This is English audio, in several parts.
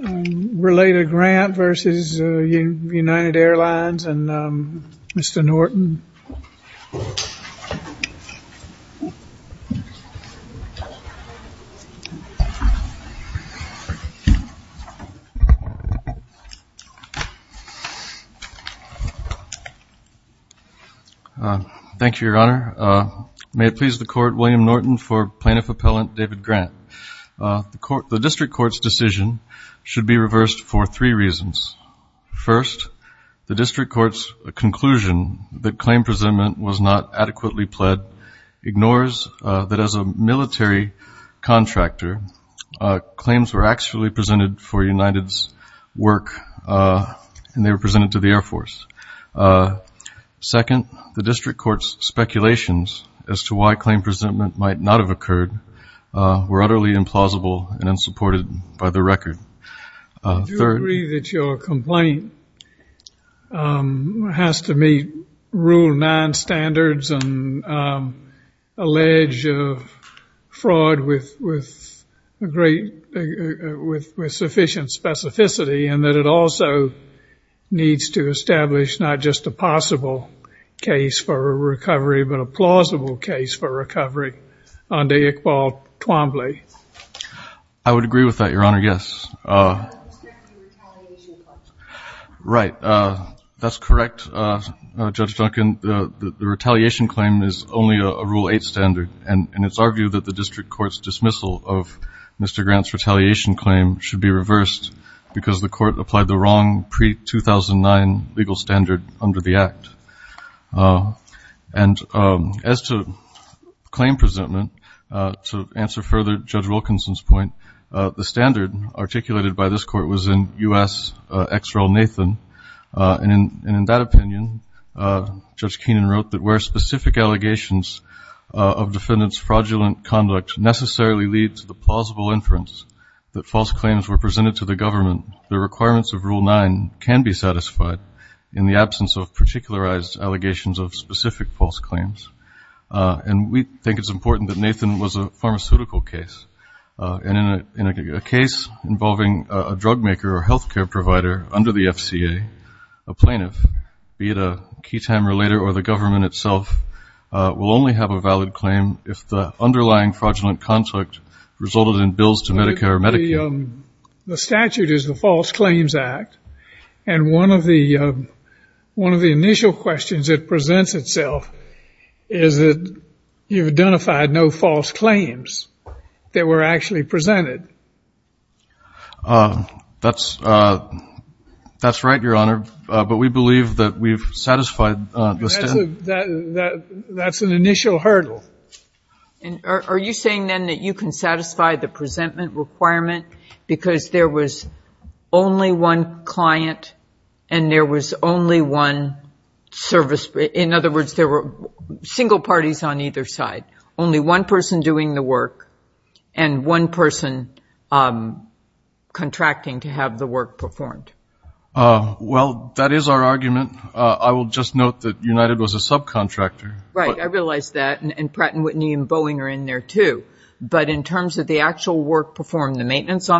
Rel. Grant v. United Airlines, and Mr. Norton. Thank you, Your Honor. May it please the Court, William Norton for Plaintiff Appellant David Grant. The District Court's decision should be reversed for three reasons. First, the District Court's conclusion that claim presentment was not adequately pled ignores that as a military contractor, claims were actually presented for United's work, and they were presented to the Air Force. Second, the District Court's speculations as to why claim presentment might not have occurred were utterly implausible and unsupported by the record. Third... Do you agree that your complaint has to meet Rule 9 standards and allege fraud with sufficient specificity, and that it also needs to establish not just a possible case for recovery, but a plausible case for recovery? I would agree with that, Your Honor, yes. Right. That's correct, Judge Duncan. The retaliation claim is only a Rule 8 standard, and it's argued that the District Court's dismissal of Mr. Grant's retaliation claim should be reversed because the Court applied the wrong pre-2009 legal standard under the Act. And as to claims presented to the District Court, the District Court's decision should be reversed because the Court applied the wrong pre-2009 legal standard under the Act. And as to claims presented to the District Court, the standard articulated by this Court was in U.S. ex-rel Nathan, and in that opinion, Judge Keenan wrote that where specific allegations of defendant's fraudulent conduct necessarily lead to the plausible inference that false claims were presented to the government, the requirements of Rule 9 can be satisfied in the absence of particularized allegations of specific false claims. And we think it's important that Nathan was a pharmaceutical case. And in a case involving a drugmaker or health care provider under the FCA, a plaintiff, be it a key time or later or the government itself, will only have a valid claim if the underlying fraudulent conduct resulted in bills to Medicare or Medicaid. The statute is the False Claims Act, and one of the initial questions that presents itself is whether the defendant's claim is that you've identified no false claims that were actually presented. That's right, Your Honor, but we believe that we've satisfied the standard. That's an initial hurdle. Are you saying then that you can satisfy the presentment requirement because there was only one client and there was only one service, in other words, there were single parties on either side, only one person doing the work and one person contracting to have the work performed? Well, that is our argument. I will just note that United was a subcontractor. Right. I realize that. And Pratt & Whitney and Boeing are in there, too. But in terms of the actual work performed, the maintenance, so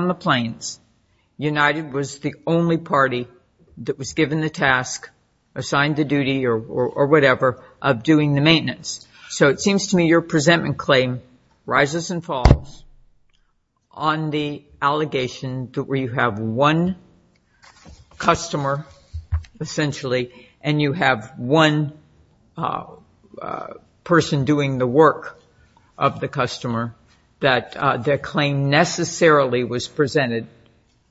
it seems to me your presentment claim rises and falls on the allegation where you have one customer essentially and you have one person doing the work of the customer that their claim necessarily was presented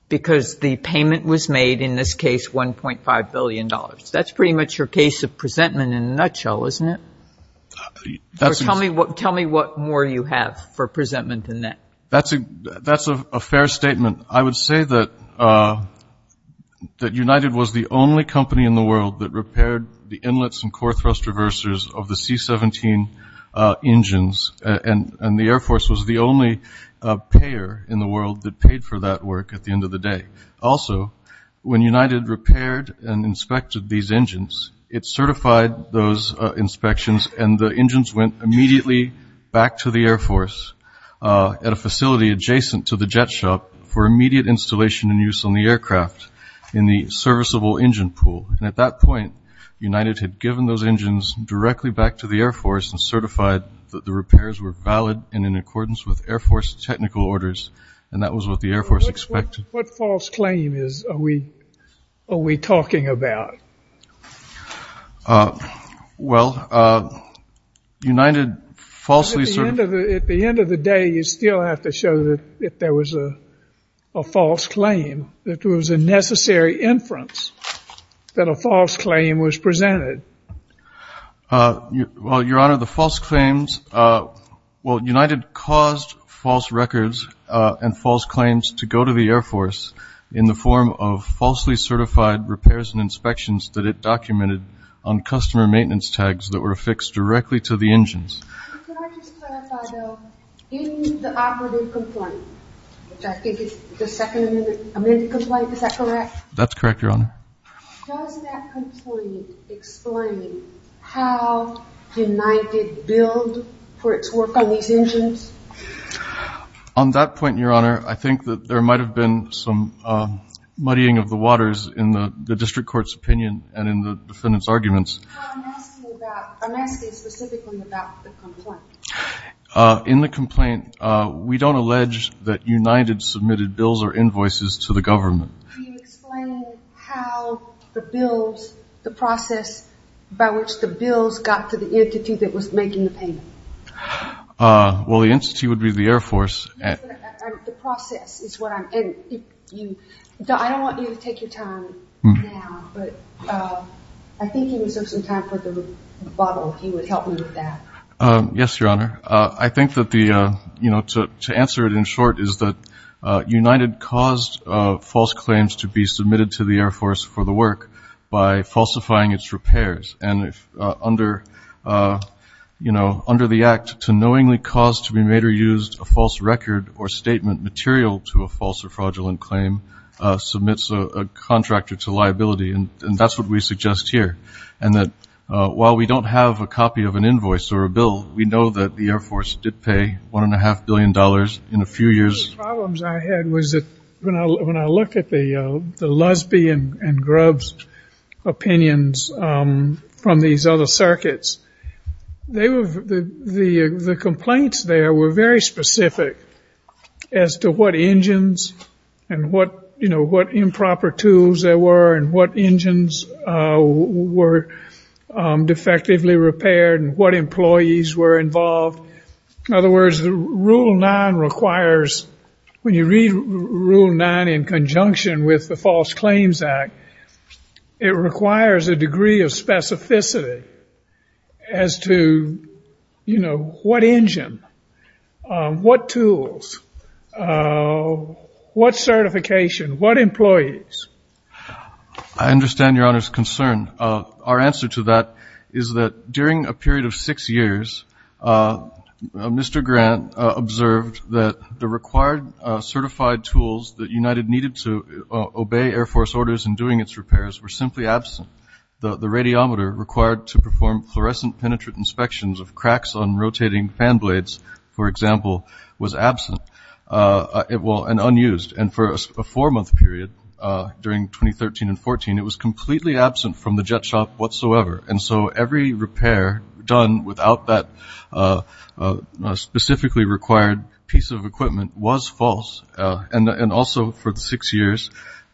because the presentment in a nutshell, isn't it? Tell me what more you have for presentment than that. That's a fair statement. I would say that United was the only company in the world that repaired the inlets and core thrust reversers of the C-17 engines, and the Air Force was the only payer in the world that paid for that work at the end of the year. United certified those inspections, and the engines went immediately back to the Air Force at a facility adjacent to the jet shop for immediate installation and use on the aircraft in the serviceable engine pool. And at that point, United had given those engines directly back to the Air Force and certified that the repairs were valid in accordance with Air Force technical orders, and that was what the Air Force expected. What false claim are we talking about? Well, United falsely certified... At the end of the day, you still have to show that there was a false claim, that there was a necessary inference that a false claim was presented. Well, Your Honor, the false claims... Well, United caused false records and false claims to go to the Air Force in the form of falsely certified repairs and inspections that it documented on customer maintenance tags that were affixed directly to the engines. Can I just clarify, though? In the operative complaint, which I think is the second amended complaint, is that correct? That's correct, Your Honor. Does that complaint explain how United billed for its work on these engines? On that point, Your Honor, I think that there might have been some muddying of the waters in the district court's opinion and in the defendant's arguments. I'm asking specifically about the complaint. In the complaint, we don't allege that United submitted bills or invoices to the government. Can you explain how the bills, the process by which the bills got to the entity that was making the payment? Well, the entity would be the Air Force. I don't want you to take your time now, but I think you reserve some time for the rebuttal, if you would help me with that. Yes, Your Honor. I think that to answer it in short is that United caused false claims to be submitted to the Air Force for the work by falsifying its repairs. And under the act, to knowingly cause to be made or used a false record or statement material to a false or fraudulent claim submits a contractor to liability. And that's what we suggest here, and that while we don't have a copy of an invoice or a bill, we know that the Air Force did pay $1.5 billion in a few years. One of the problems I had was that when I looked at the Lusby and Grubbs opinions from these other circuits, the complaints there were very specific as to what engines and what improper tools there were and what engines were defectively repaired and what employees were involved. In other words, Rule 9 requires, when you read Rule 9 in conjunction with the False Claims Act, it requires a degree of specificity as to, you know, what engine, what tools, what certification, what employees. I understand Your Honor's concern. Our answer to that is that during a period of six years, Mr. Grant observed that the required certified tools that United needed to obey Air Force orders in doing its repairs were simply absent. The radiometer required to perform fluorescent penetrant inspections of cracks on rotating fan blades, for example, was completely absent from the jet shop whatsoever. And so every repair done without that specifically required piece of equipment was false. And also for six years,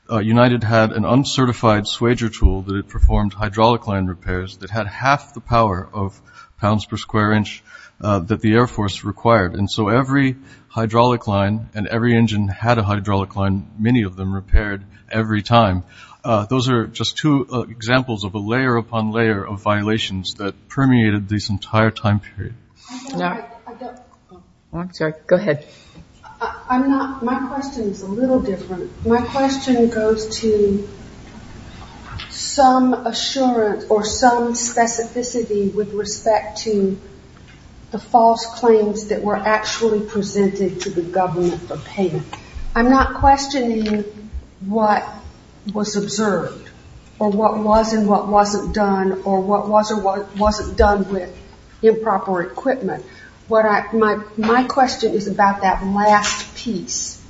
United had an uncertified swager tool that it performed hydraulic line repairs that had half the power of pounds per square inch that the Air Force required. And so every hydraulic line and every engine had a hydraulic line, many of them repaired every time. Those are just two examples of a layer upon layer of violations that permeated this entire time period. Go ahead. My question is a little different. My question goes to some assurance or some specificity with respect to the false claims that were actually presented to the government for payment. I'm not questioning what was observed or what was and what wasn't done or what was or wasn't done with improper equipment. My question is about that last piece.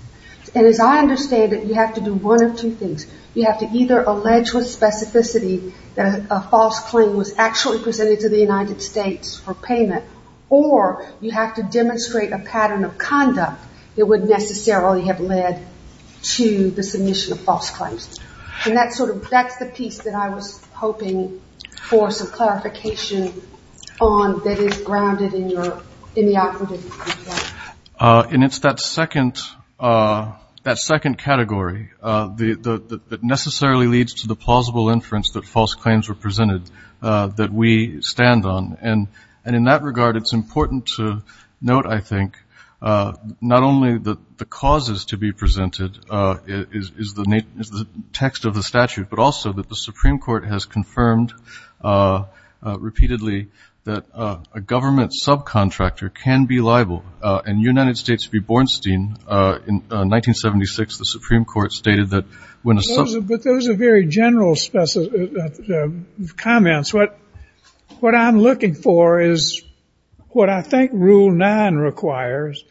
And as I understand it, you have to do one of two things. You have to either allege with specificity that a false claim was actually presented to the United States for payment or you have to demonstrate a pattern of conduct that would necessarily have led to the submission of false claims. And that's the piece that I was hoping for some clarification on that is grounded in the operative. And it's that second category that necessarily leads to the plausible inference that false claims were presented. That we stand on. And in that regard, it's important to note, I think, not only that the causes to be presented is the text of the statute, but also that the Supreme Court has confirmed repeatedly that a government subcontractor can be liable. And United States v. Bornstein in 1976, the Supreme Court stated that when a government subcontractor can be liable. But those are very general comments. What I'm looking for is what I think Rule 9 requires,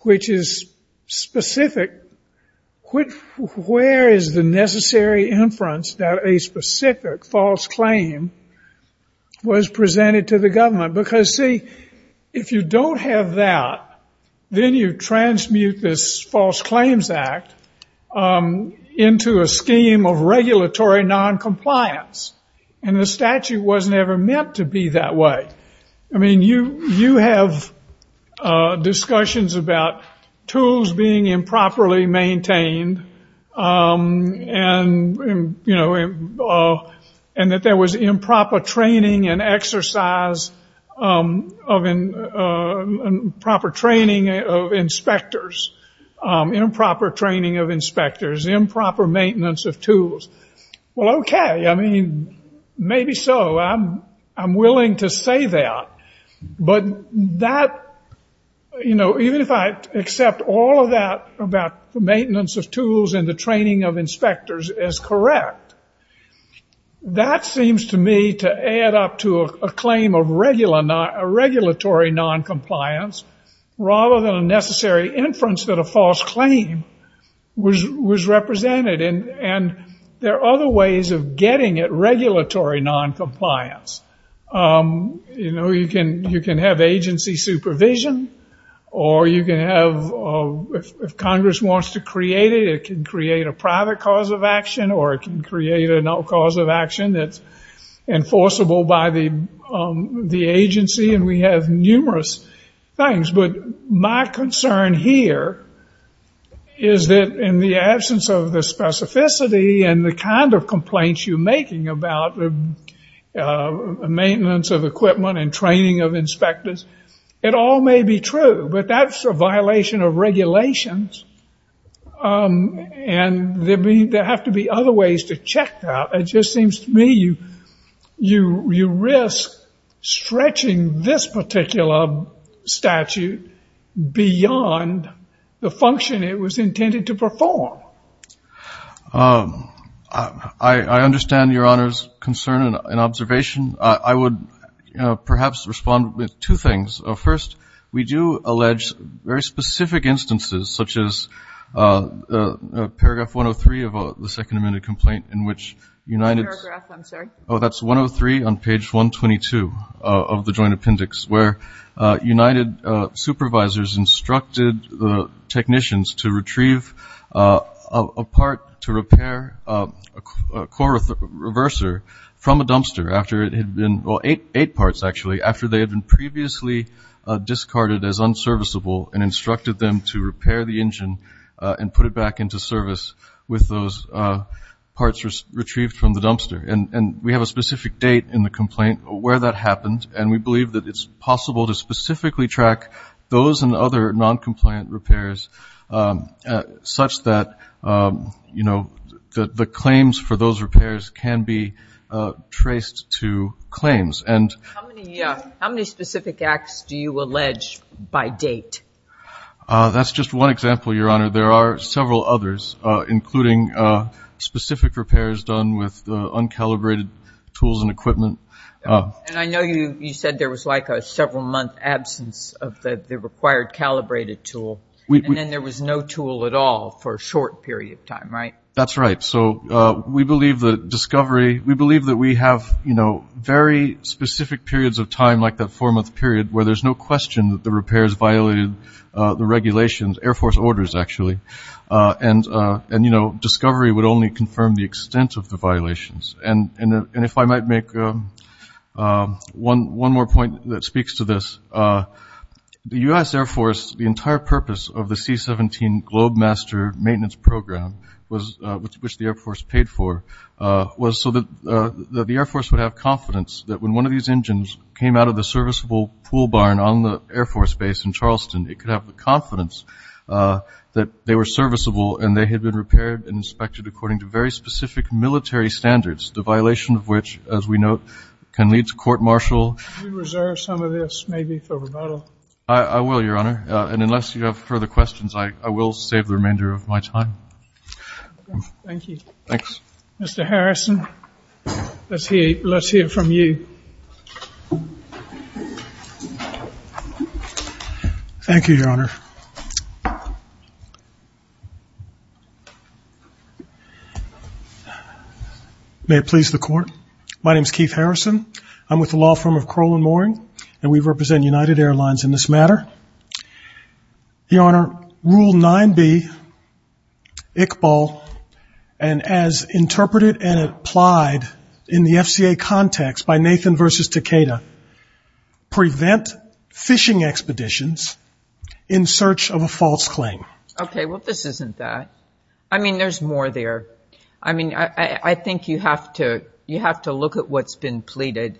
which is specific. Where is the necessary inference that a specific false claim was presented to the government? Because, see, if you don't have that, then you transmute this false claims act into a scheme of regulatory noncompliance. And the statute wasn't ever meant to be that way. I mean, you have discussions about tools being improperly maintained. And that there was improper training and exercise of improper training of inspectors. Improper training of inspectors, improper maintenance of tools. Well, okay. I mean, maybe so. I'm willing to say that. But that, you know, even if I accept all of that about maintenance of tools and the training of inspectors as correct, that seems to me to add up to a claim of regulatory noncompliance rather than a necessary inference that a false claim was represented. And there are other ways of getting at regulatory noncompliance. You know, you can have agency supervision. Or you can have, if Congress wants to create it, it can create a private cause of action or it can create a no cause of action that's enforceable by the agency. And we have numerous things. But my concern here is that in the absence of the specificity and the kind of complaints you're making about maintenance of equipment and training of inspectors, it all may be true. But that's a violation of regulations. And there have to be other ways to check that. It just seems to me you risk stretching this particular statute beyond the function it was intended to perform. I understand Your Honor's concern and observation. I would perhaps respond with two things. First, we do allege very specific instances such as Paragraph 103 of the Second Amendment Complaint in which United Supervisors instructed technicians to retrieve a part to repair a core reverser from a dumpster after it had been, well, eight parts actually, after they had been previously discarded as unserviceable and instructed them to repair the engine and put it back into service with those parts retrieved from the dumpster. And we have a specific date in the complaint where that happened and we believe that it's possible to specifically track those and other noncompliant repairs such that the claims for those repairs can be traced to claims. How many specific acts do you allege by date? That's just one example, Your Honor. There are several others, including specific repairs done with uncalibrated tools and equipment. And I know you said there was like a several-month absence of the required calibrated tool and then there was no tool at all for a short period of time, right? That's right. So we believe that Discovery, we believe that we have very specific periods of time like that four-month period where there's no question that the repairs violated the regulations, Air Force orders actually, and Discovery would only confirm the extent of the violations. And if I might make one more point that speaks to this, the U.S. Air Force, the entire purpose of the C-17 Globemaster maintenance program, which the Air Force paid for, was so that the Air Force would have confidence that when one of these engines came out of the serviceable pool barn on the Air Force base in Charleston, it could have the confidence that they were serviceable and they had been repaired and inspected according to very specific military standards, the violation of which, as we note, can lead to court martial. Could you reserve some of this maybe for rebuttal? I will, Your Honor. And unless you have further questions, I will save the remainder of my time. Thank you. Thanks. Mr. Harrison, let's hear from you. Thank you, Your Honor. May it please the Court. My name is Keith Harrison. I'm with the law firm of Crowell & Moring, and we represent United Airlines in this matter. Your Honor, Rule 9B, Iqbal, and as interpreted and applied in the FCA context by Nathan v. Takeda, prevent fishing expeditions in search of a false claim. Okay. Well, this isn't that. I mean, there's more there. I mean, I think you have to look at what's been pleaded,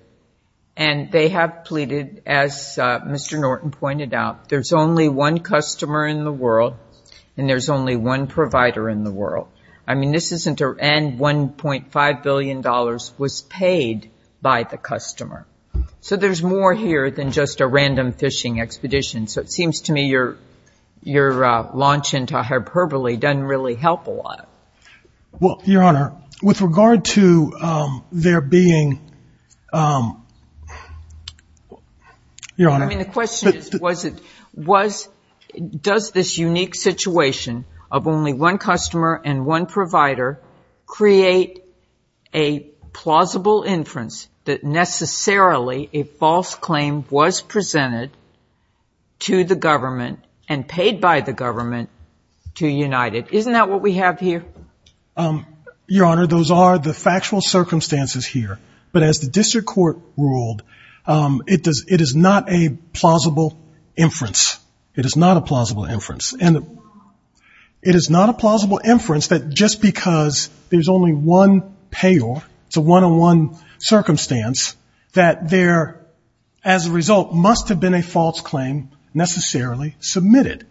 and they have pleaded, as Mr. Norton pointed out, there's only one customer in the world and there's only one provider in the world. I mean, this isn't a $1.5 billion was paid by the customer. So there's more here than just a random fishing expedition. So it seems to me your launch into hyperbole doesn't really help a lot. Well, Your Honor, with regard to there being, Your Honor. I mean, the question is, does this unique situation of only one customer and one provider create a plausible inference that necessarily a false claim was presented to the government and paid by the government to United? Isn't that what we have here? Your Honor, those are the factual circumstances here. But as the district court ruled, it is not a plausible inference. It is not a plausible inference. And it is not a plausible inference that just because there's only one payer, it's a one-on-one circumstance, that there, as a result, must have been a false claim necessarily submitted.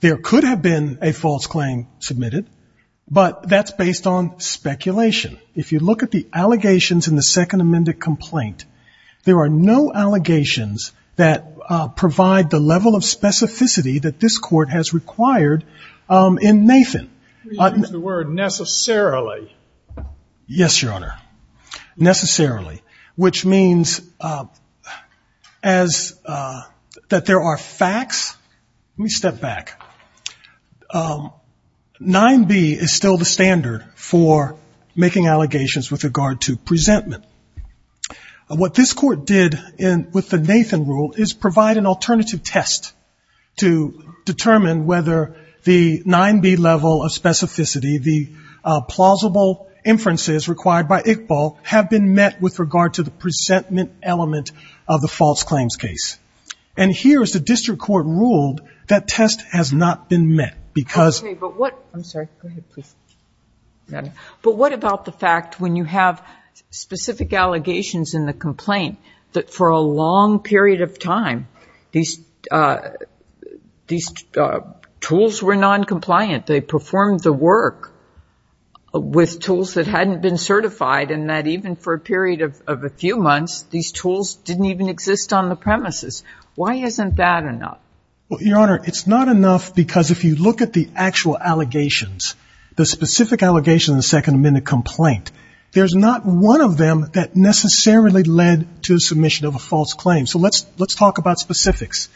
There could have been a false claim submitted, but that's based on speculation. If you look at the allegations in the Second Amendment complaint, there are no allegations that provide the level of specificity that this court has required in Nathan. You used the word necessarily. Yes, Your Honor, necessarily, which means that there are facts. Let me step back. 9B is still the standard for making allegations with regard to presentment. What this court did with the Nathan rule is provide an alternative test to determine whether the 9B level of specificity, the plausible inferences required by Iqbal, have been met with regard to the presentment element of the false claims case. And here, as the district court ruled, that test has not been met because — Okay, but what — I'm sorry. Go ahead, please. But what about the fact, when you have specific allegations in the complaint, that for a long period of time these tools were noncompliant, they performed the work with tools that hadn't been certified, and that even for a period of a few months these tools didn't even exist on the premises? Why isn't that enough? Well, Your Honor, it's not enough because if you look at the actual allegations, the specific allegations in the Second Amendment complaint, there's not one of them that necessarily led to submission of a false claim. So let's talk about specifics.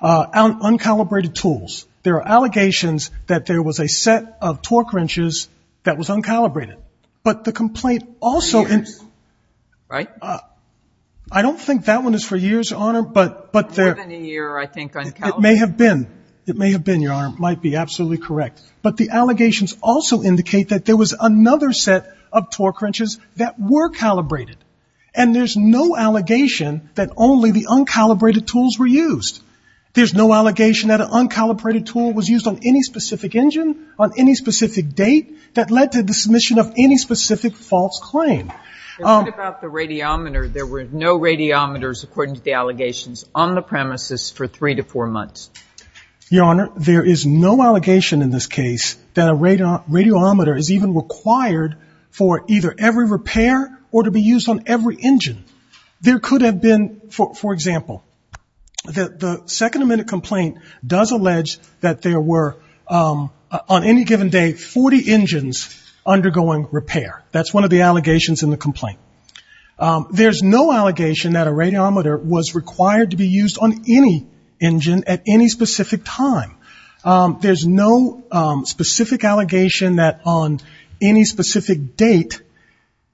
On uncalibrated tools, there are allegations that there was a set of torque wrenches that was uncalibrated, but the complaint also — For years, right? I don't think that one is for years, Your Honor, but there — More than a year, I think, uncalibrated. It may have been. It may have been, Your Honor. It might be absolutely correct. But the allegations also indicate that there was another set of torque wrenches that were calibrated. And there's no allegation that only the uncalibrated tools were used. There's no allegation that an uncalibrated tool was used on any specific engine, on any specific date, that led to the submission of any specific false claim. What about the radiometer? There were no radiometers, according to the allegations, on the premises for three to four months. Your Honor, there is no allegation in this case that a radiometer is even required for either every repair or to be used on every engine. There could have been, for example, the second amendment complaint does allege that there were, on any given day, 40 engines undergoing repair. That's one of the allegations in the complaint. There's no allegation that a radiometer was required to be used on any engine at any specific time. There's no specific allegation that on any specific date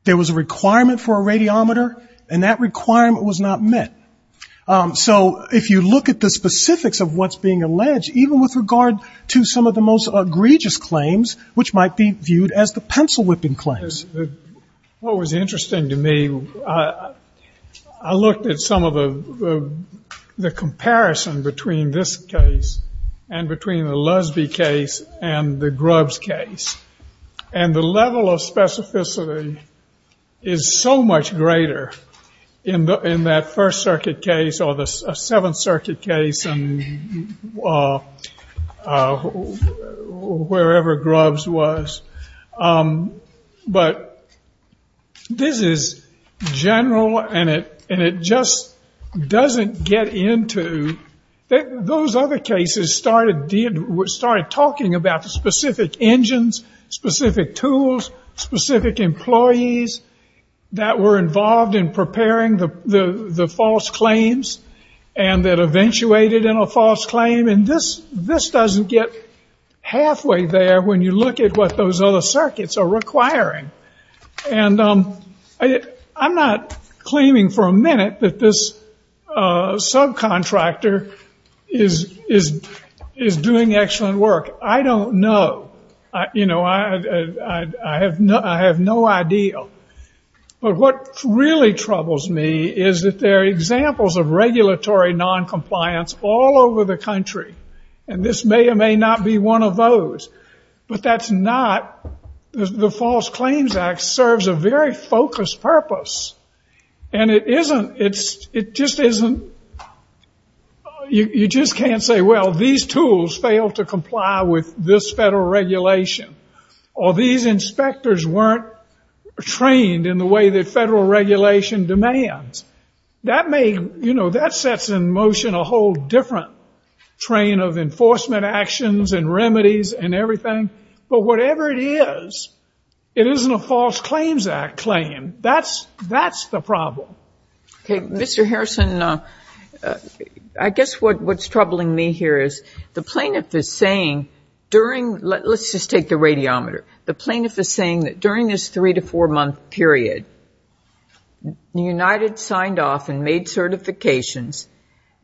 there was a requirement for a radiometer, and that requirement was not met. So if you look at the specifics of what's being alleged, even with regard to some of the most egregious claims, which might be viewed as the pencil-whipping claims. What was interesting to me, I looked at some of the comparison between this case and between the Lusby case and the Grubbs case. And the level of specificity is so much greater in that First Circuit case or the Seventh Circuit case and wherever Grubbs was. But this is general, and it just doesn't get into... Those other cases started talking about specific engines, specific tools, specific employees that were involved in preparing the false claims and that eventuated in a false claim. And this doesn't get halfway there when you look at what those other circuits are requiring. And I'm not claiming for a minute that this subcontractor is doing excellent work. I don't know. I have no idea. But what really troubles me is that there are examples of regulatory noncompliance all over the country, and this may or may not be one of those. But that's not... The False Claims Act serves a very focused purpose. And it just isn't... You just can't say, well, these tools fail to comply with this federal regulation. Or these inspectors weren't trained in the way that federal regulation demands. That sets in motion a whole different train of enforcement actions and remedies and everything. But whatever it is, it isn't a False Claims Act claim. That's the problem. Okay. Mr. Harrison, I guess what's troubling me here is the plaintiff is saying during... Let's just take the radiometer. The plaintiff is saying that during this three- to four-month period, United signed off and made certifications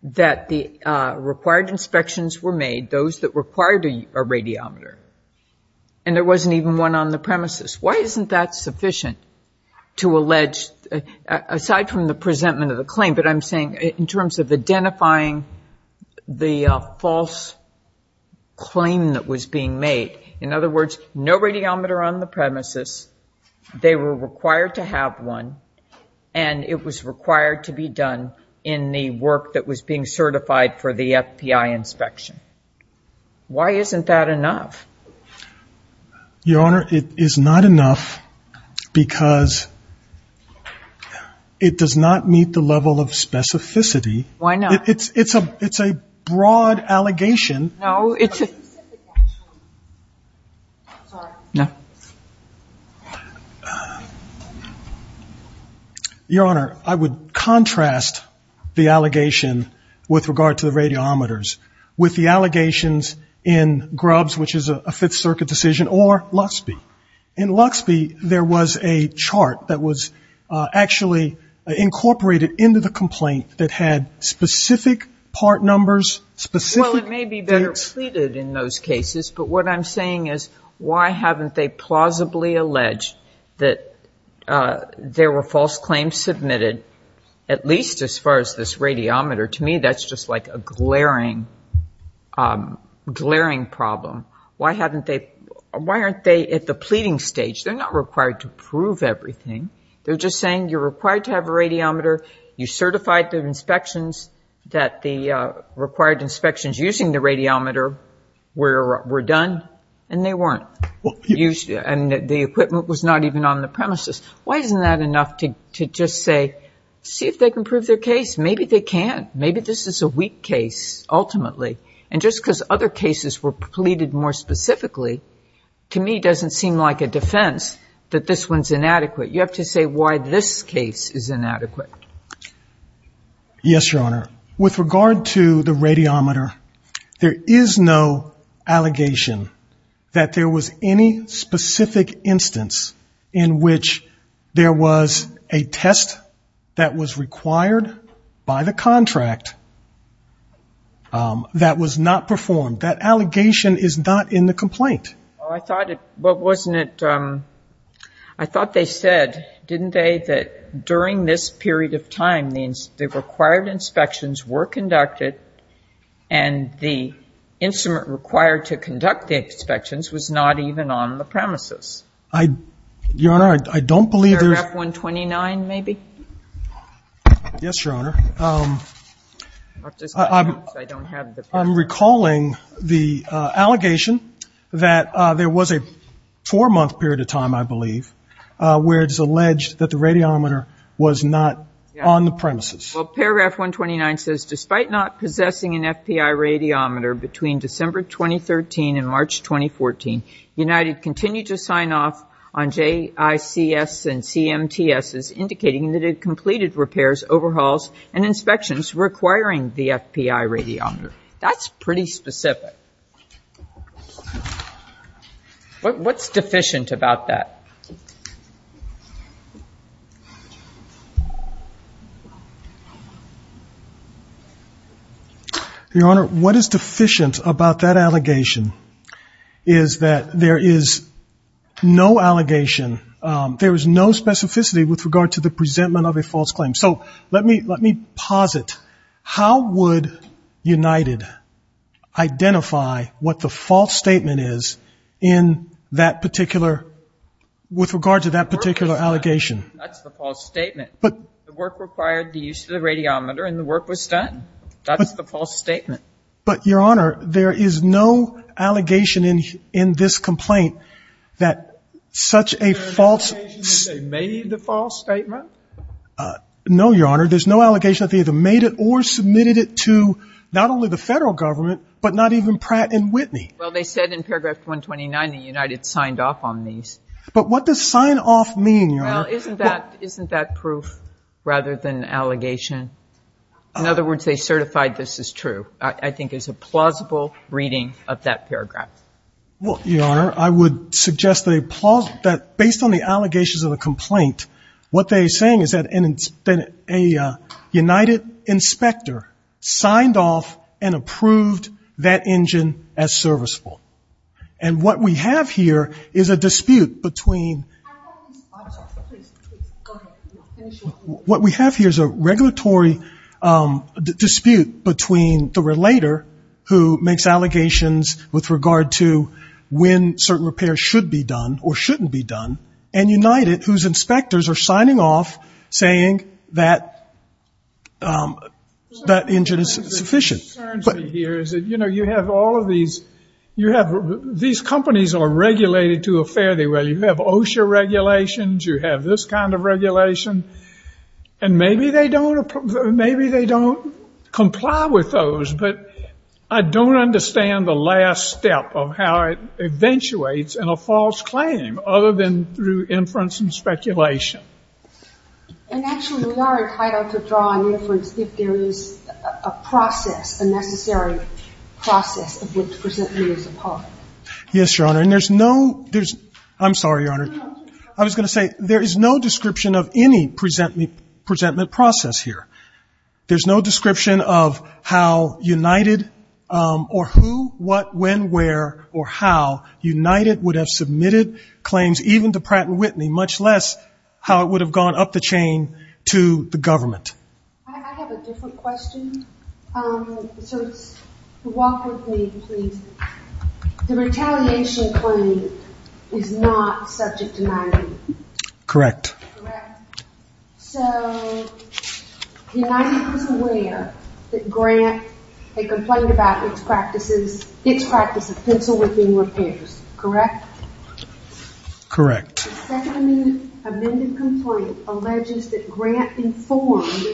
that the required inspections were made, those that required a radiometer. And there wasn't even one on the premises. Why isn't that sufficient to allege, aside from the presentment of the claim, but I'm saying in terms of identifying the false claim that was being made. In other words, no radiometer on the premises. They were required to have one. And it was required to be done in the work that was being certified for the FBI inspection. Why isn't that enough? Your Honor, it is not enough because it does not meet the level of specificity. Why not? It's a broad allegation. No, it's a... Sorry. No. Your Honor, I would contrast the allegation with regard to the radiometers with the allegations in Grubbs, which is a Fifth Circuit decision, or Luxby. In Luxby, there was a chart that was actually incorporated into the complaint that had specific part numbers, specific dates. Well, it may be better pleaded in those cases, but what I'm saying is why haven't they plausibly alleged that there were false claims submitted, at least as far as this radiometer? To me, that's just like a glaring, glaring problem. Why aren't they at the pleading stage? They're not required to prove everything. They're just saying you're required to have a radiometer, you certified the inspections that the required inspections using the radiometer were done, and they weren't. And the equipment was not even on the premises. Why isn't that enough to just say, see if they can prove their case? Maybe they can't. Maybe this is a weak case, ultimately. And just because other cases were pleaded more specifically, to me, doesn't seem like a defense that this one's inadequate. You have to say why this case is inadequate. Yes, Your Honor. With regard to the radiometer, there is no allegation that there was any specific instance in which there was a test that was required by the contract that was not performed. That allegation is not in the complaint. Well, I thought it wasn't. I thought they said, didn't they, that during this period of time, the required inspections were conducted, and the instrument required to conduct the inspections was not even on the premises. Your Honor, I don't believe there's Paragraph 129, maybe? Yes, Your Honor. I don't have it. I'm recalling the allegation that there was a four-month period of time, I believe, where it's alleged that the radiometer was not on the premises. Well, Paragraph 129 says, Despite not possessing an FPI radiometer between December 2013 and March 2014, United continued to sign off on JICS and CMTSs, That's pretty specific. What's deficient about that? Your Honor, what is deficient about that allegation is that there is no allegation, there is no specificity with regard to the presentment of a false claim. So let me posit, how would United identify what the false statement is in that particular, with regard to that particular allegation? That's the false statement. The work required the use of the radiometer, and the work was done. That's the false statement. But, Your Honor, there is no allegation in this complaint that such a false statement? No, Your Honor. There's no allegation that they either made it or submitted it to not only the Federal Government, but not even Pratt & Whitney. Well, they said in Paragraph 129 that United signed off on these. But what does sign off mean, Your Honor? Well, isn't that proof rather than allegation? In other words, they certified this is true, I think is a plausible reading of that paragraph. Well, Your Honor, I would suggest that based on the allegations of the complaint, what they're saying is that a United inspector signed off and approved that engine as serviceable. And what we have here is a dispute between the relator who makes allegations with regard to when certain repairs should be done or shouldn't be done, and United, whose inspectors are signing off saying that that engine is sufficient. What concerns me here is that, you know, you have all of these. These companies are regulated to a fair degree. You have OSHA regulations. You have this kind of regulation. And maybe they don't comply with those. But I don't understand the last step of how it eventuates in a false claim other than through inference and speculation. And actually, we are entitled to draw an inference if there is a process, a necessary process of which presentment is a part. Yes, Your Honor. And there's no ‑‑ I'm sorry, Your Honor. I was going to say there is no description of any presentment process here. There's no description of how United or who, what, when, where, or how United would have submitted claims even to Pratt & Whitney, much less how it would have gone up the chain to the government. I have a different question. So walk with me, please. The retaliation claim is not subject to my review. Correct. Correct. So United was aware that Grant had complained about its practice of pencil whipping repairs. Correct? Correct. The second amended complaint alleges that Grant informed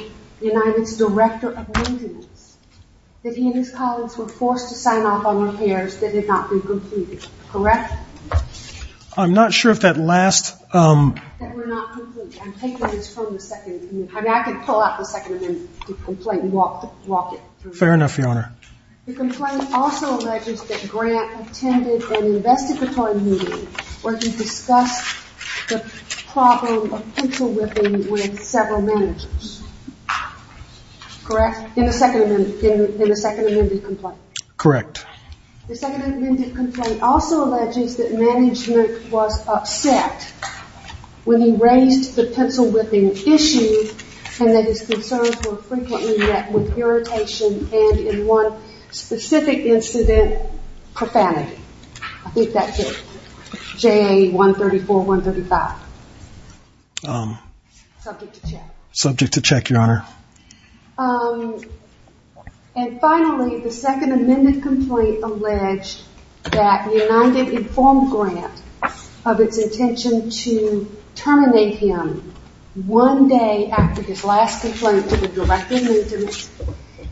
United's director of maintenance that he and his colleagues were forced to sign off on repairs that had not been completed. Correct? I'm not sure if that last ‑‑ That were not complete. I'm taking this from the second amendment. I can pull out the second amendment complaint and walk it through. Fair enough, Your Honor. The complaint also alleges that Grant attended an investigatory meeting where he discussed the problem of pencil whipping with several managers. Correct? In the second amendment complaint. Correct. The second amended complaint also alleges that management was upset when he raised the pencil whipping issue and that his concerns were frequently met with irritation and in one specific incident, profanity. I think that's it. JA 134, 135. Subject to check. Subject to check, Your Honor. And finally, the second amended complaint alleged that United informed Grant of its intention to terminate him one day after his last complaint to the director of maintenance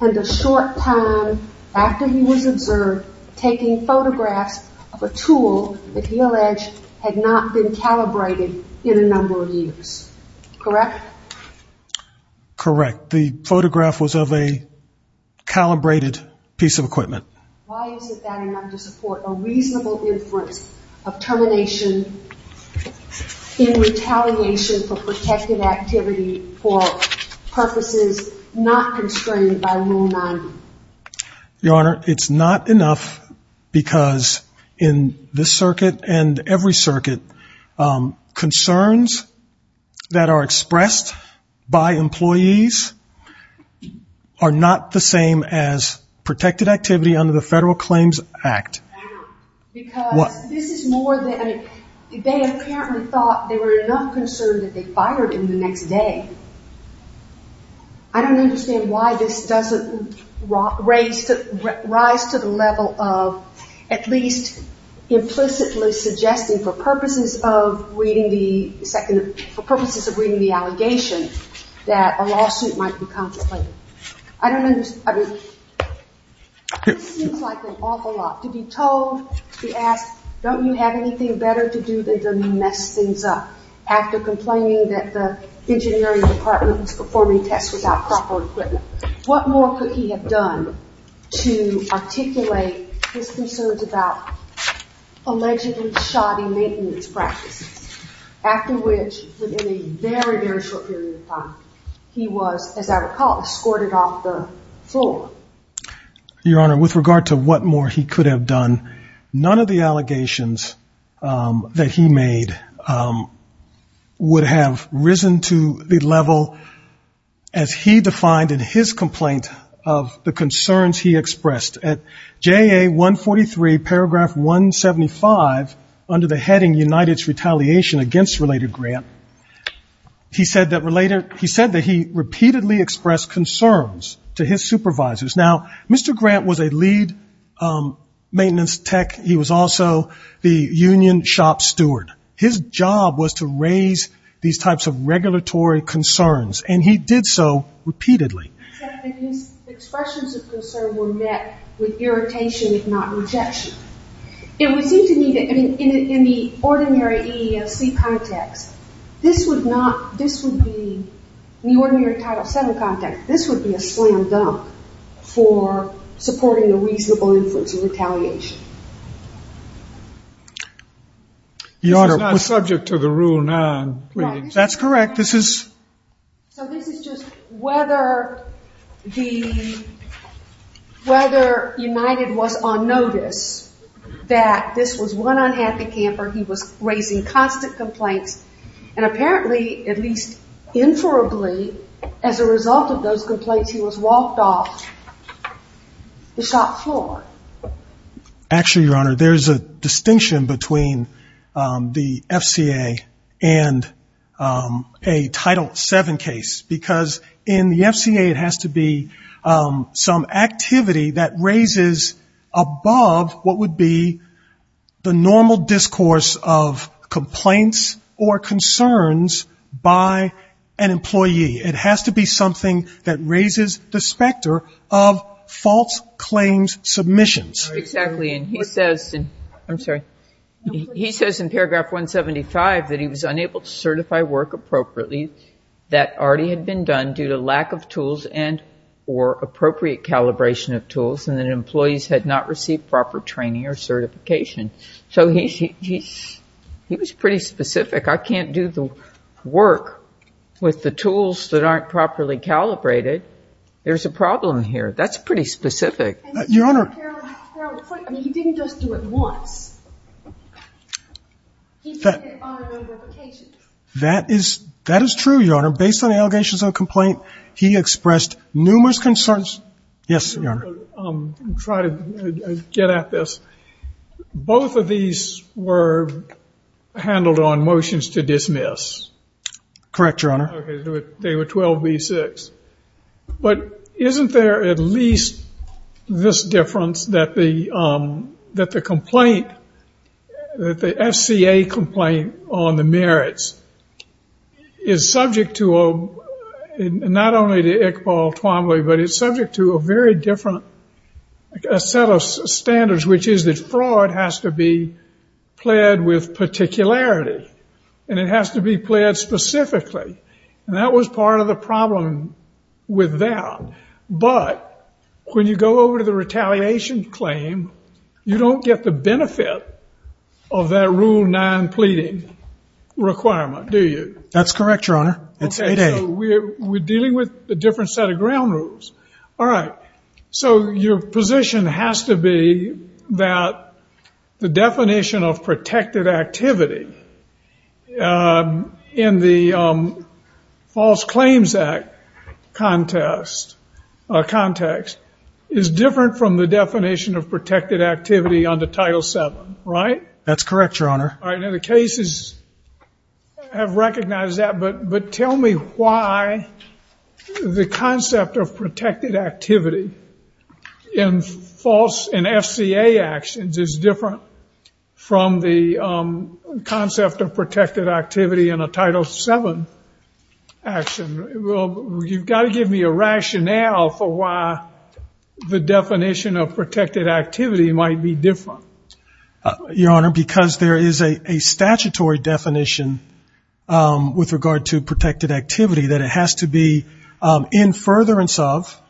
and a short time after he was observed taking photographs of a tool that he alleged had not been calibrated in a number of years. Correct? Correct. The photograph was of a calibrated piece of equipment. Why is it that enough to support a reasonable inference of termination in retaliation for protective activity for purposes not constrained by Rule 90? Your Honor, it's not enough because in this circuit and every circuit, concerns that are expressed by employees are not the same as protected activity under the Federal Claims Act. Because this is more than, I mean, they apparently thought there were enough concerns that they fired him the next day. I don't understand why this doesn't rise to the level of at least implicitly suggesting for purposes of reading the second, for purposes of reading the allegation, that a lawsuit might be contemplated. I don't understand, I mean, it seems like an awful lot to be told, to be asked, don't you have anything better to do than to mess things up after complaining that the engineering department was performing tests without proper equipment. What more could he have done to articulate his concerns about allegedly shoddy maintenance practices? After which, within a very, very short period of time, he was, as I recall, escorted off the floor. Your Honor, with regard to what more he could have done, none of the allegations that he of the concerns he expressed. At JA 143, paragraph 175, under the heading United's Retaliation Against Related Grant, he said that he repeatedly expressed concerns to his supervisors. Now, Mr. Grant was a lead maintenance tech. He was also the union shop steward. His job was to raise these types of regulatory concerns, and he did so repeatedly. His expressions of concern were met with irritation, if not rejection. It would seem to me that in the ordinary EEOC context, this would not, this would be, in the ordinary Title VII context, this would be a slam dunk for supporting the reasonable influence of retaliation. Your Honor, we're subject to the Rule 9. That's correct. This is? So this is just whether the, whether United was on notice that this was one unhappy camper. He was raising constant complaints, and apparently, at least inferably, as a result of those complaints, he was walked off the shop floor. Actually, Your Honor, there's a distinction between the FCA and a Title VII case, because in the FCA, it has to be some activity that raises above what would be the normal discourse of complaints or concerns by an employee. It has to be something that raises the specter of false claims submissions. Exactly. And he says, I'm sorry, he says in paragraph 175 that he was unable to certify work appropriately that already had been done due to lack of tools and or appropriate calibration of tools, and that employees had not received proper training or certification. So he was pretty specific. I can't do the work with the tools that aren't properly calibrated. There's a problem here. That's pretty specific. Your Honor. He didn't just do it once. He did it on a number of occasions. That is true, Your Honor. Based on the allegations of a complaint, he expressed numerous concerns. Yes, Your Honor. I'm going to try to get at this. Both of these were handled on motions to dismiss. Correct, Your Honor. They were 12B-6. But isn't there at least this difference that the complaint, that the FCA complaint on the merits, is subject to not only to Iqbal Twomley, but it's subject to a very different set of standards, which is that fraud has to be pled with particularity, and it has to be pled specifically. And that was part of the problem with that. But when you go over to the retaliation claim, you don't get the benefit of that Rule 9 pleading requirement, do you? That's correct, Your Honor. It's 8A. All right. So your position has to be that the definition of protected activity in the False Claims Act context is different from the definition of protected activity under Title VII, right? The cases have recognized that, but tell me why the concept of protected activity in FCA actions is different from the concept of protected activity in a Title VII action. You've got to give me a rationale for why the definition of protected activity might be different. Your Honor, because there is a statutory definition with regard to protected activity that it has to be in furtherance of,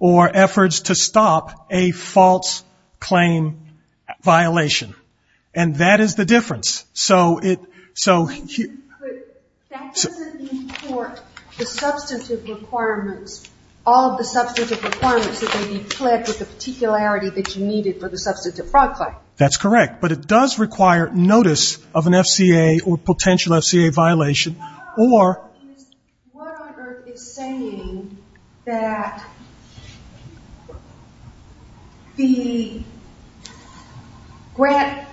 or efforts to stop, a false claim violation. And that is the difference. That doesn't mean for the substantive requirements, all of the substantive requirements, that they be pled with the particularity that you needed for the substantive fraud claim. That's correct. But it does require notice of an FCA or potential FCA violation. Your Honor, what on earth is saying that the grant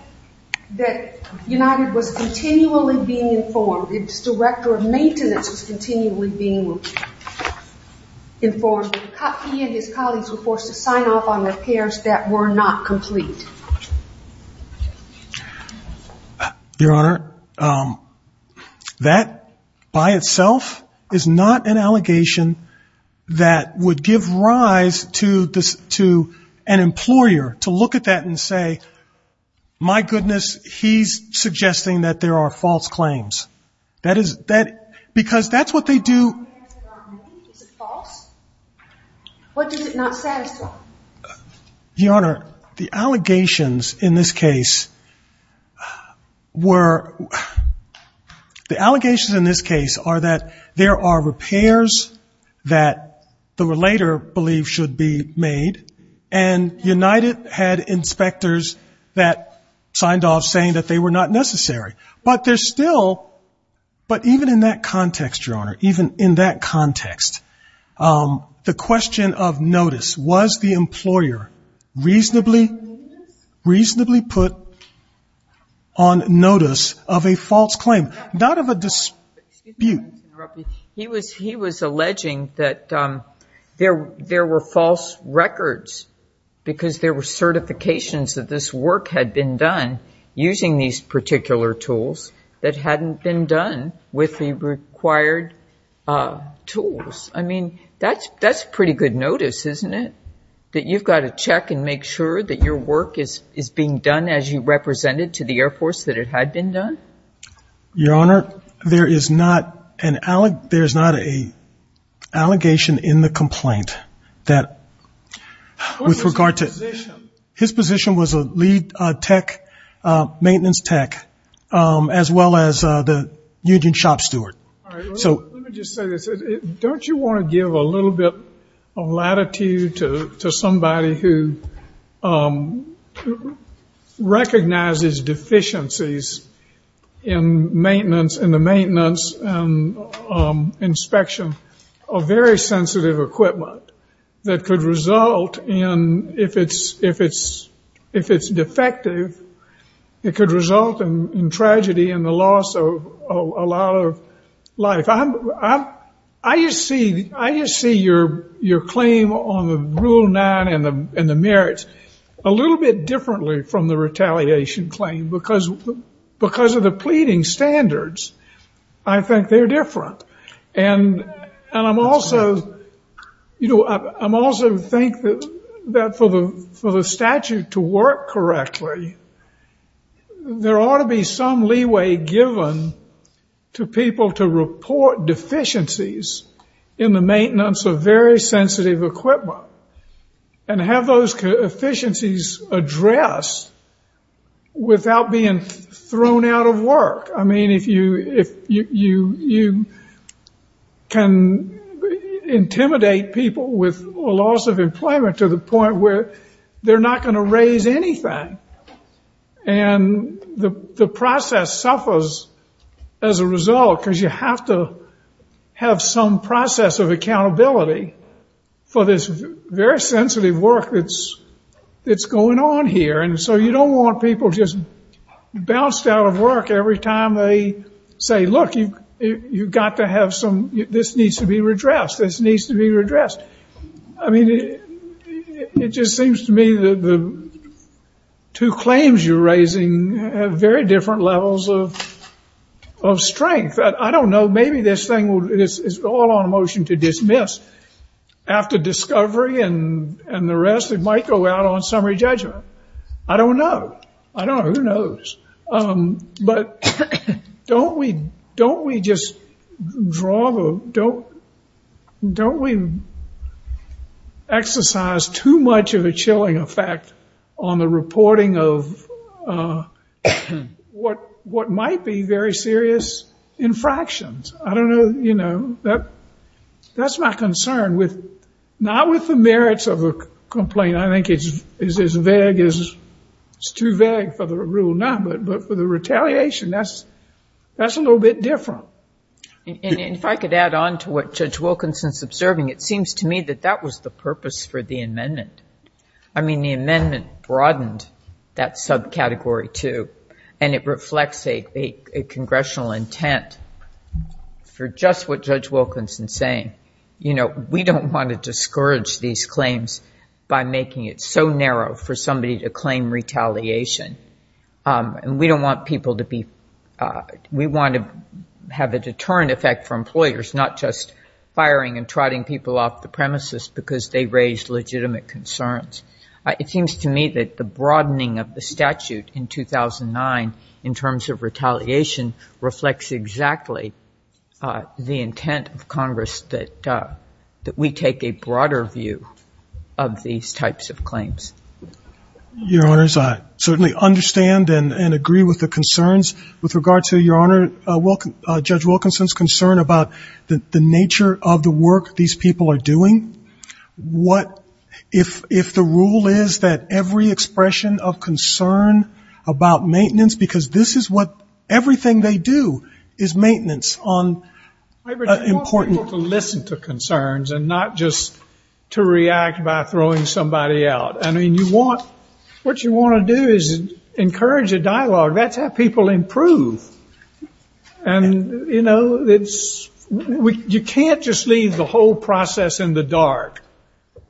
that United was continually being informed, its director of maintenance was continually being informed, that he and his colleagues were forced to sign off on repairs that were not complete? Your Honor, that by itself is not an allegation that would give rise to an employer to look at that and say, my goodness, he's suggesting that there are false claims. Because that's what they do. Is it false? What does it not satisfy? Your Honor, the allegations in this case are that there are repairs that the relator believes should be made, and United had inspectors that signed off saying that they were not necessary. But even in that context, Your Honor, even in that context, the question of notice, was the employer reasonably put on notice of a false claim? Not of a dispute. He was alleging that there were false records, because there were certifications that this work had been done using these particular tools that hadn't been done with the required tools. I mean, that's pretty good notice, isn't it? That you've got to check and make sure that your work is being done as you represented to the Air Force, that it had been done? Your Honor, there is not an allegation in the complaint that with regard to his position was a lead tech, maintenance tech, as well as the union shop steward. Let me just say this. Don't you want to give a little bit of latitude to somebody who recognizes deficiencies in the maintenance and inspection of very sensitive equipment that could result in, if it's defective, it could result in tragedy and the loss of a lot of life. I just see your claim on the Rule 9 and the merits a little bit differently from the retaliation claim, because of the pleading standards. I think they're different. And I also think that for the statute to work correctly, there ought to be some leeway given to people to report deficiencies in the maintenance of very sensitive equipment and have those deficiencies addressed without being thrown out of work. I mean, if you can intimidate people with a loss of employment to the point where they're not going to raise anything, and the process suffers as a result because you have to have some process of accountability for this very sensitive work that's going on here. And so you don't want people just bounced out of work every time they say, look, you've got to have some, this needs to be redressed, this needs to be redressed. I mean, it just seems to me that the two claims you're raising have very different levels of strength. I don't know. Maybe this thing is all on a motion to dismiss. After discovery and the rest, it might go out on summary judgment. I don't know. I don't know. Who knows? But don't we just draw the, don't we exercise too much of a chilling effect on the reporting of what might be very serious infractions? I don't know. You know, that's my concern, not with the merits of a complaint. I mean, I think it's as vague as, it's too vague for the rule now. But for the retaliation, that's a little bit different. And if I could add on to what Judge Wilkinson's observing, it seems to me that that was the purpose for the amendment. I mean, the amendment broadened that subcategory too, and it reflects a congressional intent for just what Judge Wilkinson's saying. We don't want to discourage these claims by making it so narrow for somebody to claim retaliation. And we don't want people to be, we want to have a deterrent effect for employers, not just firing and trotting people off the premises because they raised legitimate concerns. It seems to me that the broadening of the statute in 2009 in terms of retaliation reflects exactly the intent of Congress that we take a broader view of these types of claims. Your Honors, I certainly understand and agree with the concerns with regard to, Your Honor, Judge Wilkinson's concern about the nature of the work these people are doing. If the rule is that every expression of concern about maintenance, because this is what everything they do is maintenance on important. I want people to listen to concerns and not just to react by throwing somebody out. I mean, you want, what you want to do is encourage a dialogue. That's how people improve. And, you know, it's, you can't just leave the whole process in the dark.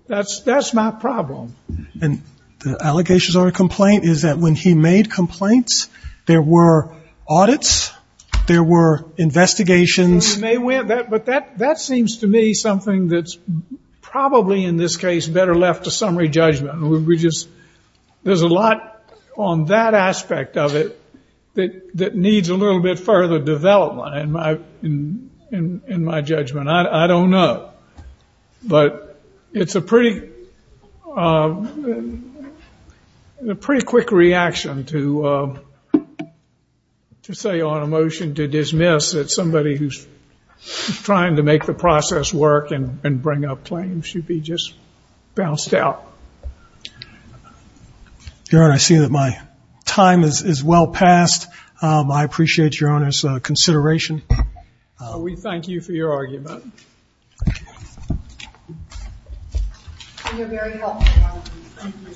That's my problem. And the allegations on a complaint is that when he made complaints, there were audits, there were investigations. But that seems to me something that's probably in this case better left to summary judgment. We just, there's a lot on that aspect of it that needs a little bit further development in my judgment. I don't know. But it's a pretty quick reaction to say on a motion to dismiss that somebody who's trying to make the process work and bring up claims should be just bounced out. Your Honor, I see that my time is well past. I appreciate Your Honor's consideration. We thank you for your argument. You're very welcome, Your Honor.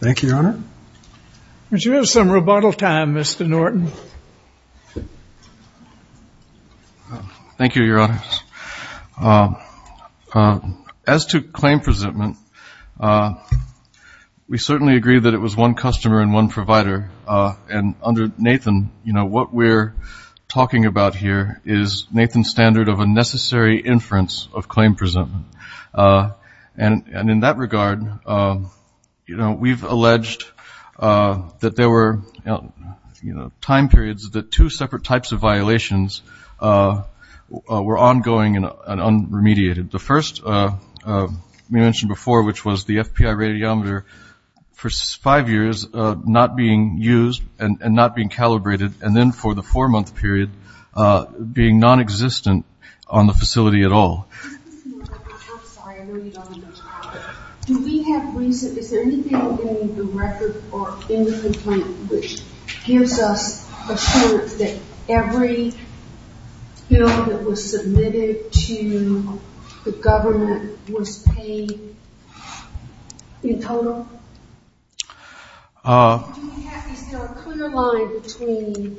Thank you, Your Honor. Would you have some rebuttal time, Mr. Norton? Thank you, Your Honor. As to claim presentment, we certainly agree that it was one customer and one provider. And under Nathan, what we're talking about here is Nathan's standard of unnecessary inference of claim presentment. And in that regard, we've alleged that there were time periods that two separate types of violations were ongoing and un-remediated. The first we mentioned before, which was the FPI radiometer, for five years not being used and not being calibrated, and then for the four-month period being nonexistent on the facility at all. I'm sorry, I know you don't remember. Do we have reason, is there anything in the record or in the complaint which gives us assurance that every bill that was submitted to the government was paid in total? Is there a clear line between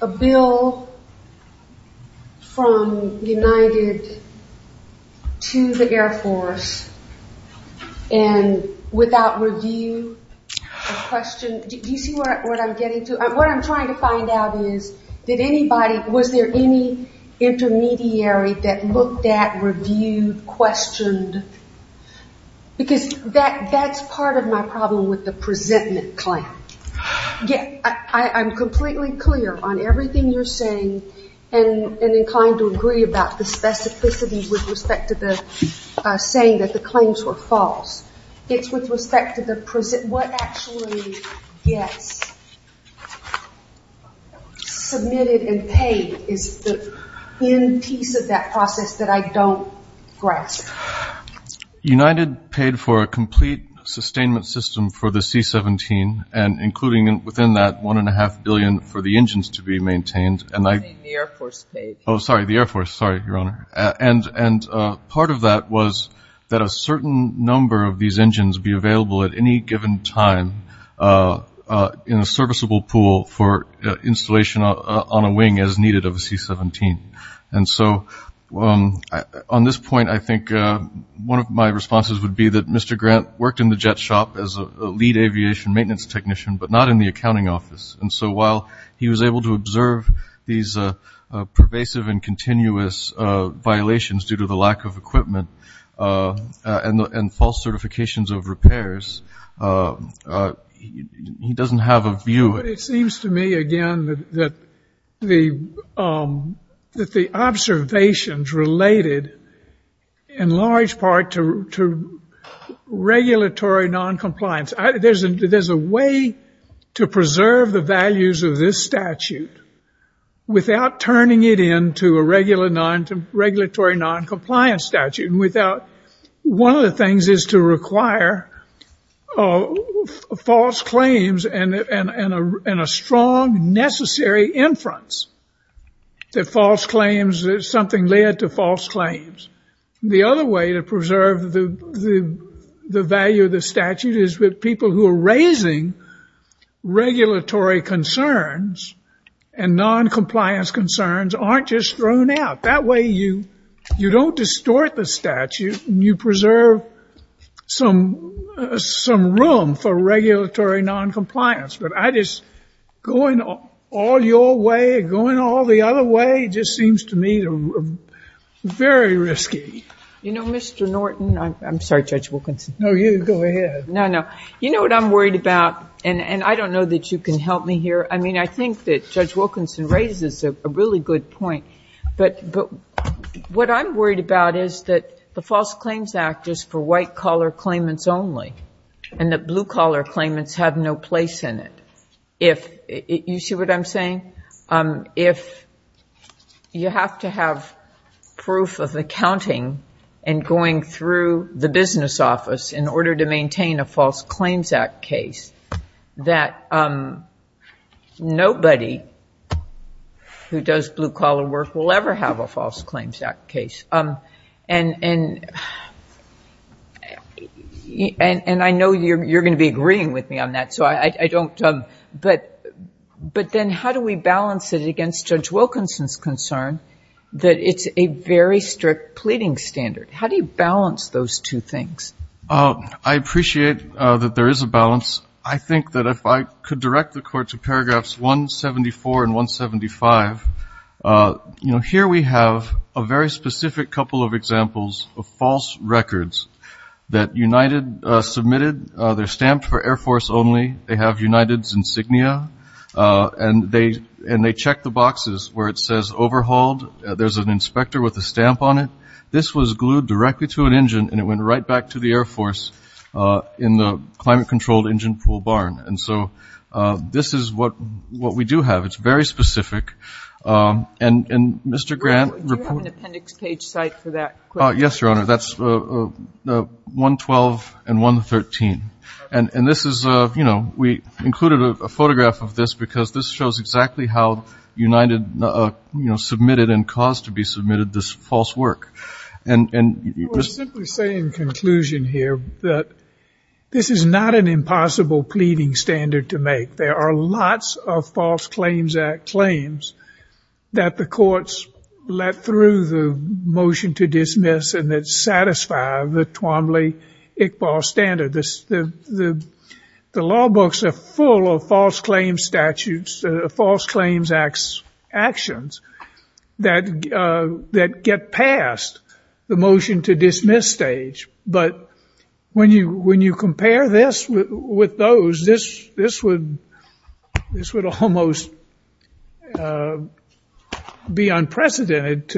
a bill from United to the Air Force and without review or question? Do you see what I'm getting to? What I'm trying to find out is, was there any intermediary that looked at, reviewed, questioned? Because that's part of my problem with the presentment claim. I'm completely clear on everything you're saying and inclined to agree about the specificity with respect to the saying that the claims were false. It's with respect to what actually gets submitted and paid is the end piece of that process that I don't grasp. United paid for a complete sustainment system for the C-17, and including within that $1.5 billion for the engines to be maintained. You're saying the Air Force paid. Oh, sorry, the Air Force. Sorry, Your Honor. And part of that was that a certain number of these engines be available at any given time in a serviceable pool for installation on a wing as needed of a C-17. And so on this point, I think one of my responses would be that Mr. Grant worked in the jet shop as a lead aviation maintenance technician but not in the accounting office. And so while he was able to observe these pervasive and continuous violations due to the lack of equipment and false certifications of repairs, he doesn't have a view. It seems to me, again, that the observations related in large part to regulatory noncompliance. There's a way to preserve the values of this statute without turning it into a regulatory noncompliance statute. One of the things is to require false claims and a strong necessary inference that something led to false claims. The other way to preserve the value of the statute is with people who are raising regulatory concerns and noncompliance concerns aren't just thrown out. That way you don't distort the statute and you preserve some room for regulatory noncompliance. But going all your way, going all the other way, just seems to me very risky. You know, Mr. Norton, I'm sorry, Judge Wilkinson. No, you go ahead. No, no. You know what I'm worried about? And I don't know that you can help me here. I mean, I think that Judge Wilkinson raises a really good point. But what I'm worried about is that the False Claims Act is for white-collar claimants only and that blue-collar claimants have no place in it. You see what I'm saying? If you have to have proof of accounting and going through the business office in order to maintain a False Claims Act case, that nobody who does blue-collar work will ever have a False Claims Act case. And I know you're going to be agreeing with me on that, so I don't. But then how do we balance it against Judge Wilkinson's concern that it's a very strict pleading standard? How do you balance those two things? I think that if I could direct the Court to paragraphs 174 and 175, here we have a very specific couple of examples of false records that United submitted. They're stamped for Air Force only. They have United's insignia, and they check the boxes where it says overhauled. There's an inspector with a stamp on it. This was glued directly to an engine, and it went right back to the Air Force in the climate-controlled engine pool barn. And so this is what we do have. It's very specific. And, Mr. Grant, report. Do you have an appendix page cite for that? Yes, Your Honor. That's 112 and 113. And this is, you know, we included a photograph of this because this shows exactly how United submitted and caused to be submitted this false work. We're simply saying in conclusion here that this is not an impossible pleading standard to make. There are lots of False Claims Act claims that the courts let through the motion to dismiss and that satisfy the Twombly-Iqbal standard. The law books are full of False Claims Act actions that get past the motion to dismiss stage. But when you compare this with those, this would almost be unprecedented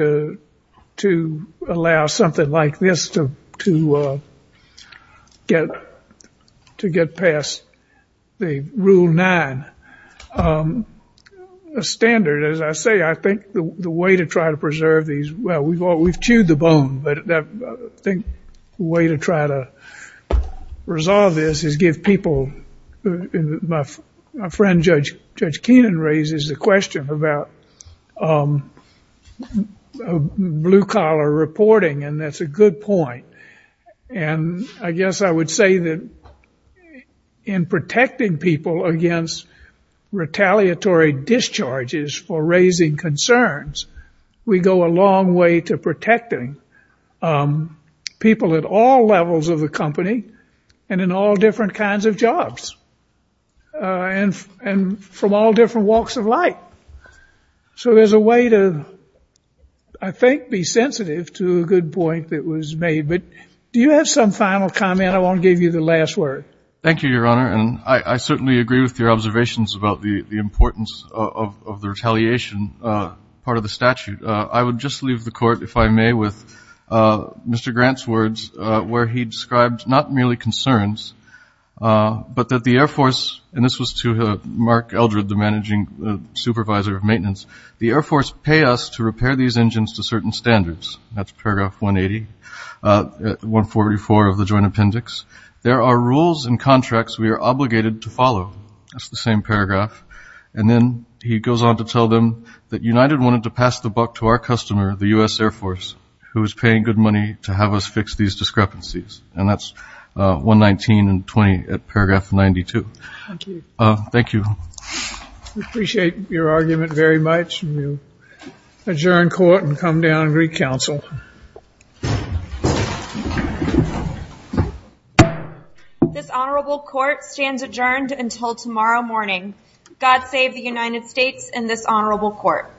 to allow something like this to get past the Rule 9 standard. As I say, I think the way to try to preserve these, well, we've chewed the bone, but I think the way to try to resolve this is give people, my friend Judge Keenan raises the question about blue-collar reporting, and that's a good point. And I guess I would say that in protecting people against retaliatory discharges for raising concerns, we go a long way to protecting people at all levels of the company and in all different kinds of jobs and from all different walks of life. So there's a way to, I think, be sensitive to a good point that was made. But do you have some final comment? I want to give you the last word. Thank you, Your Honor. And I certainly agree with your observations about the importance of the retaliation part of the statute. I would just leave the Court, if I may, with Mr. Grant's words, where he described not merely concerns, but that the Air Force, and this was to Mark Eldred, the managing supervisor of maintenance, the Air Force pay us to repair these engines to certain standards. That's Paragraph 180, 144 of the Joint Appendix. There are rules and contracts we are obligated to follow. That's the same paragraph. And then he goes on to tell them that United wanted to pass the buck to our customer, the U.S. Air Force, who is paying good money to have us fix these discrepancies. And that's 119 and 20 at Paragraph 92. Thank you. Thank you. We appreciate your argument very much. We will adjourn Court and come down and recounsel. This Honorable Court stands adjourned until tomorrow morning. God save the United States and this Honorable Court.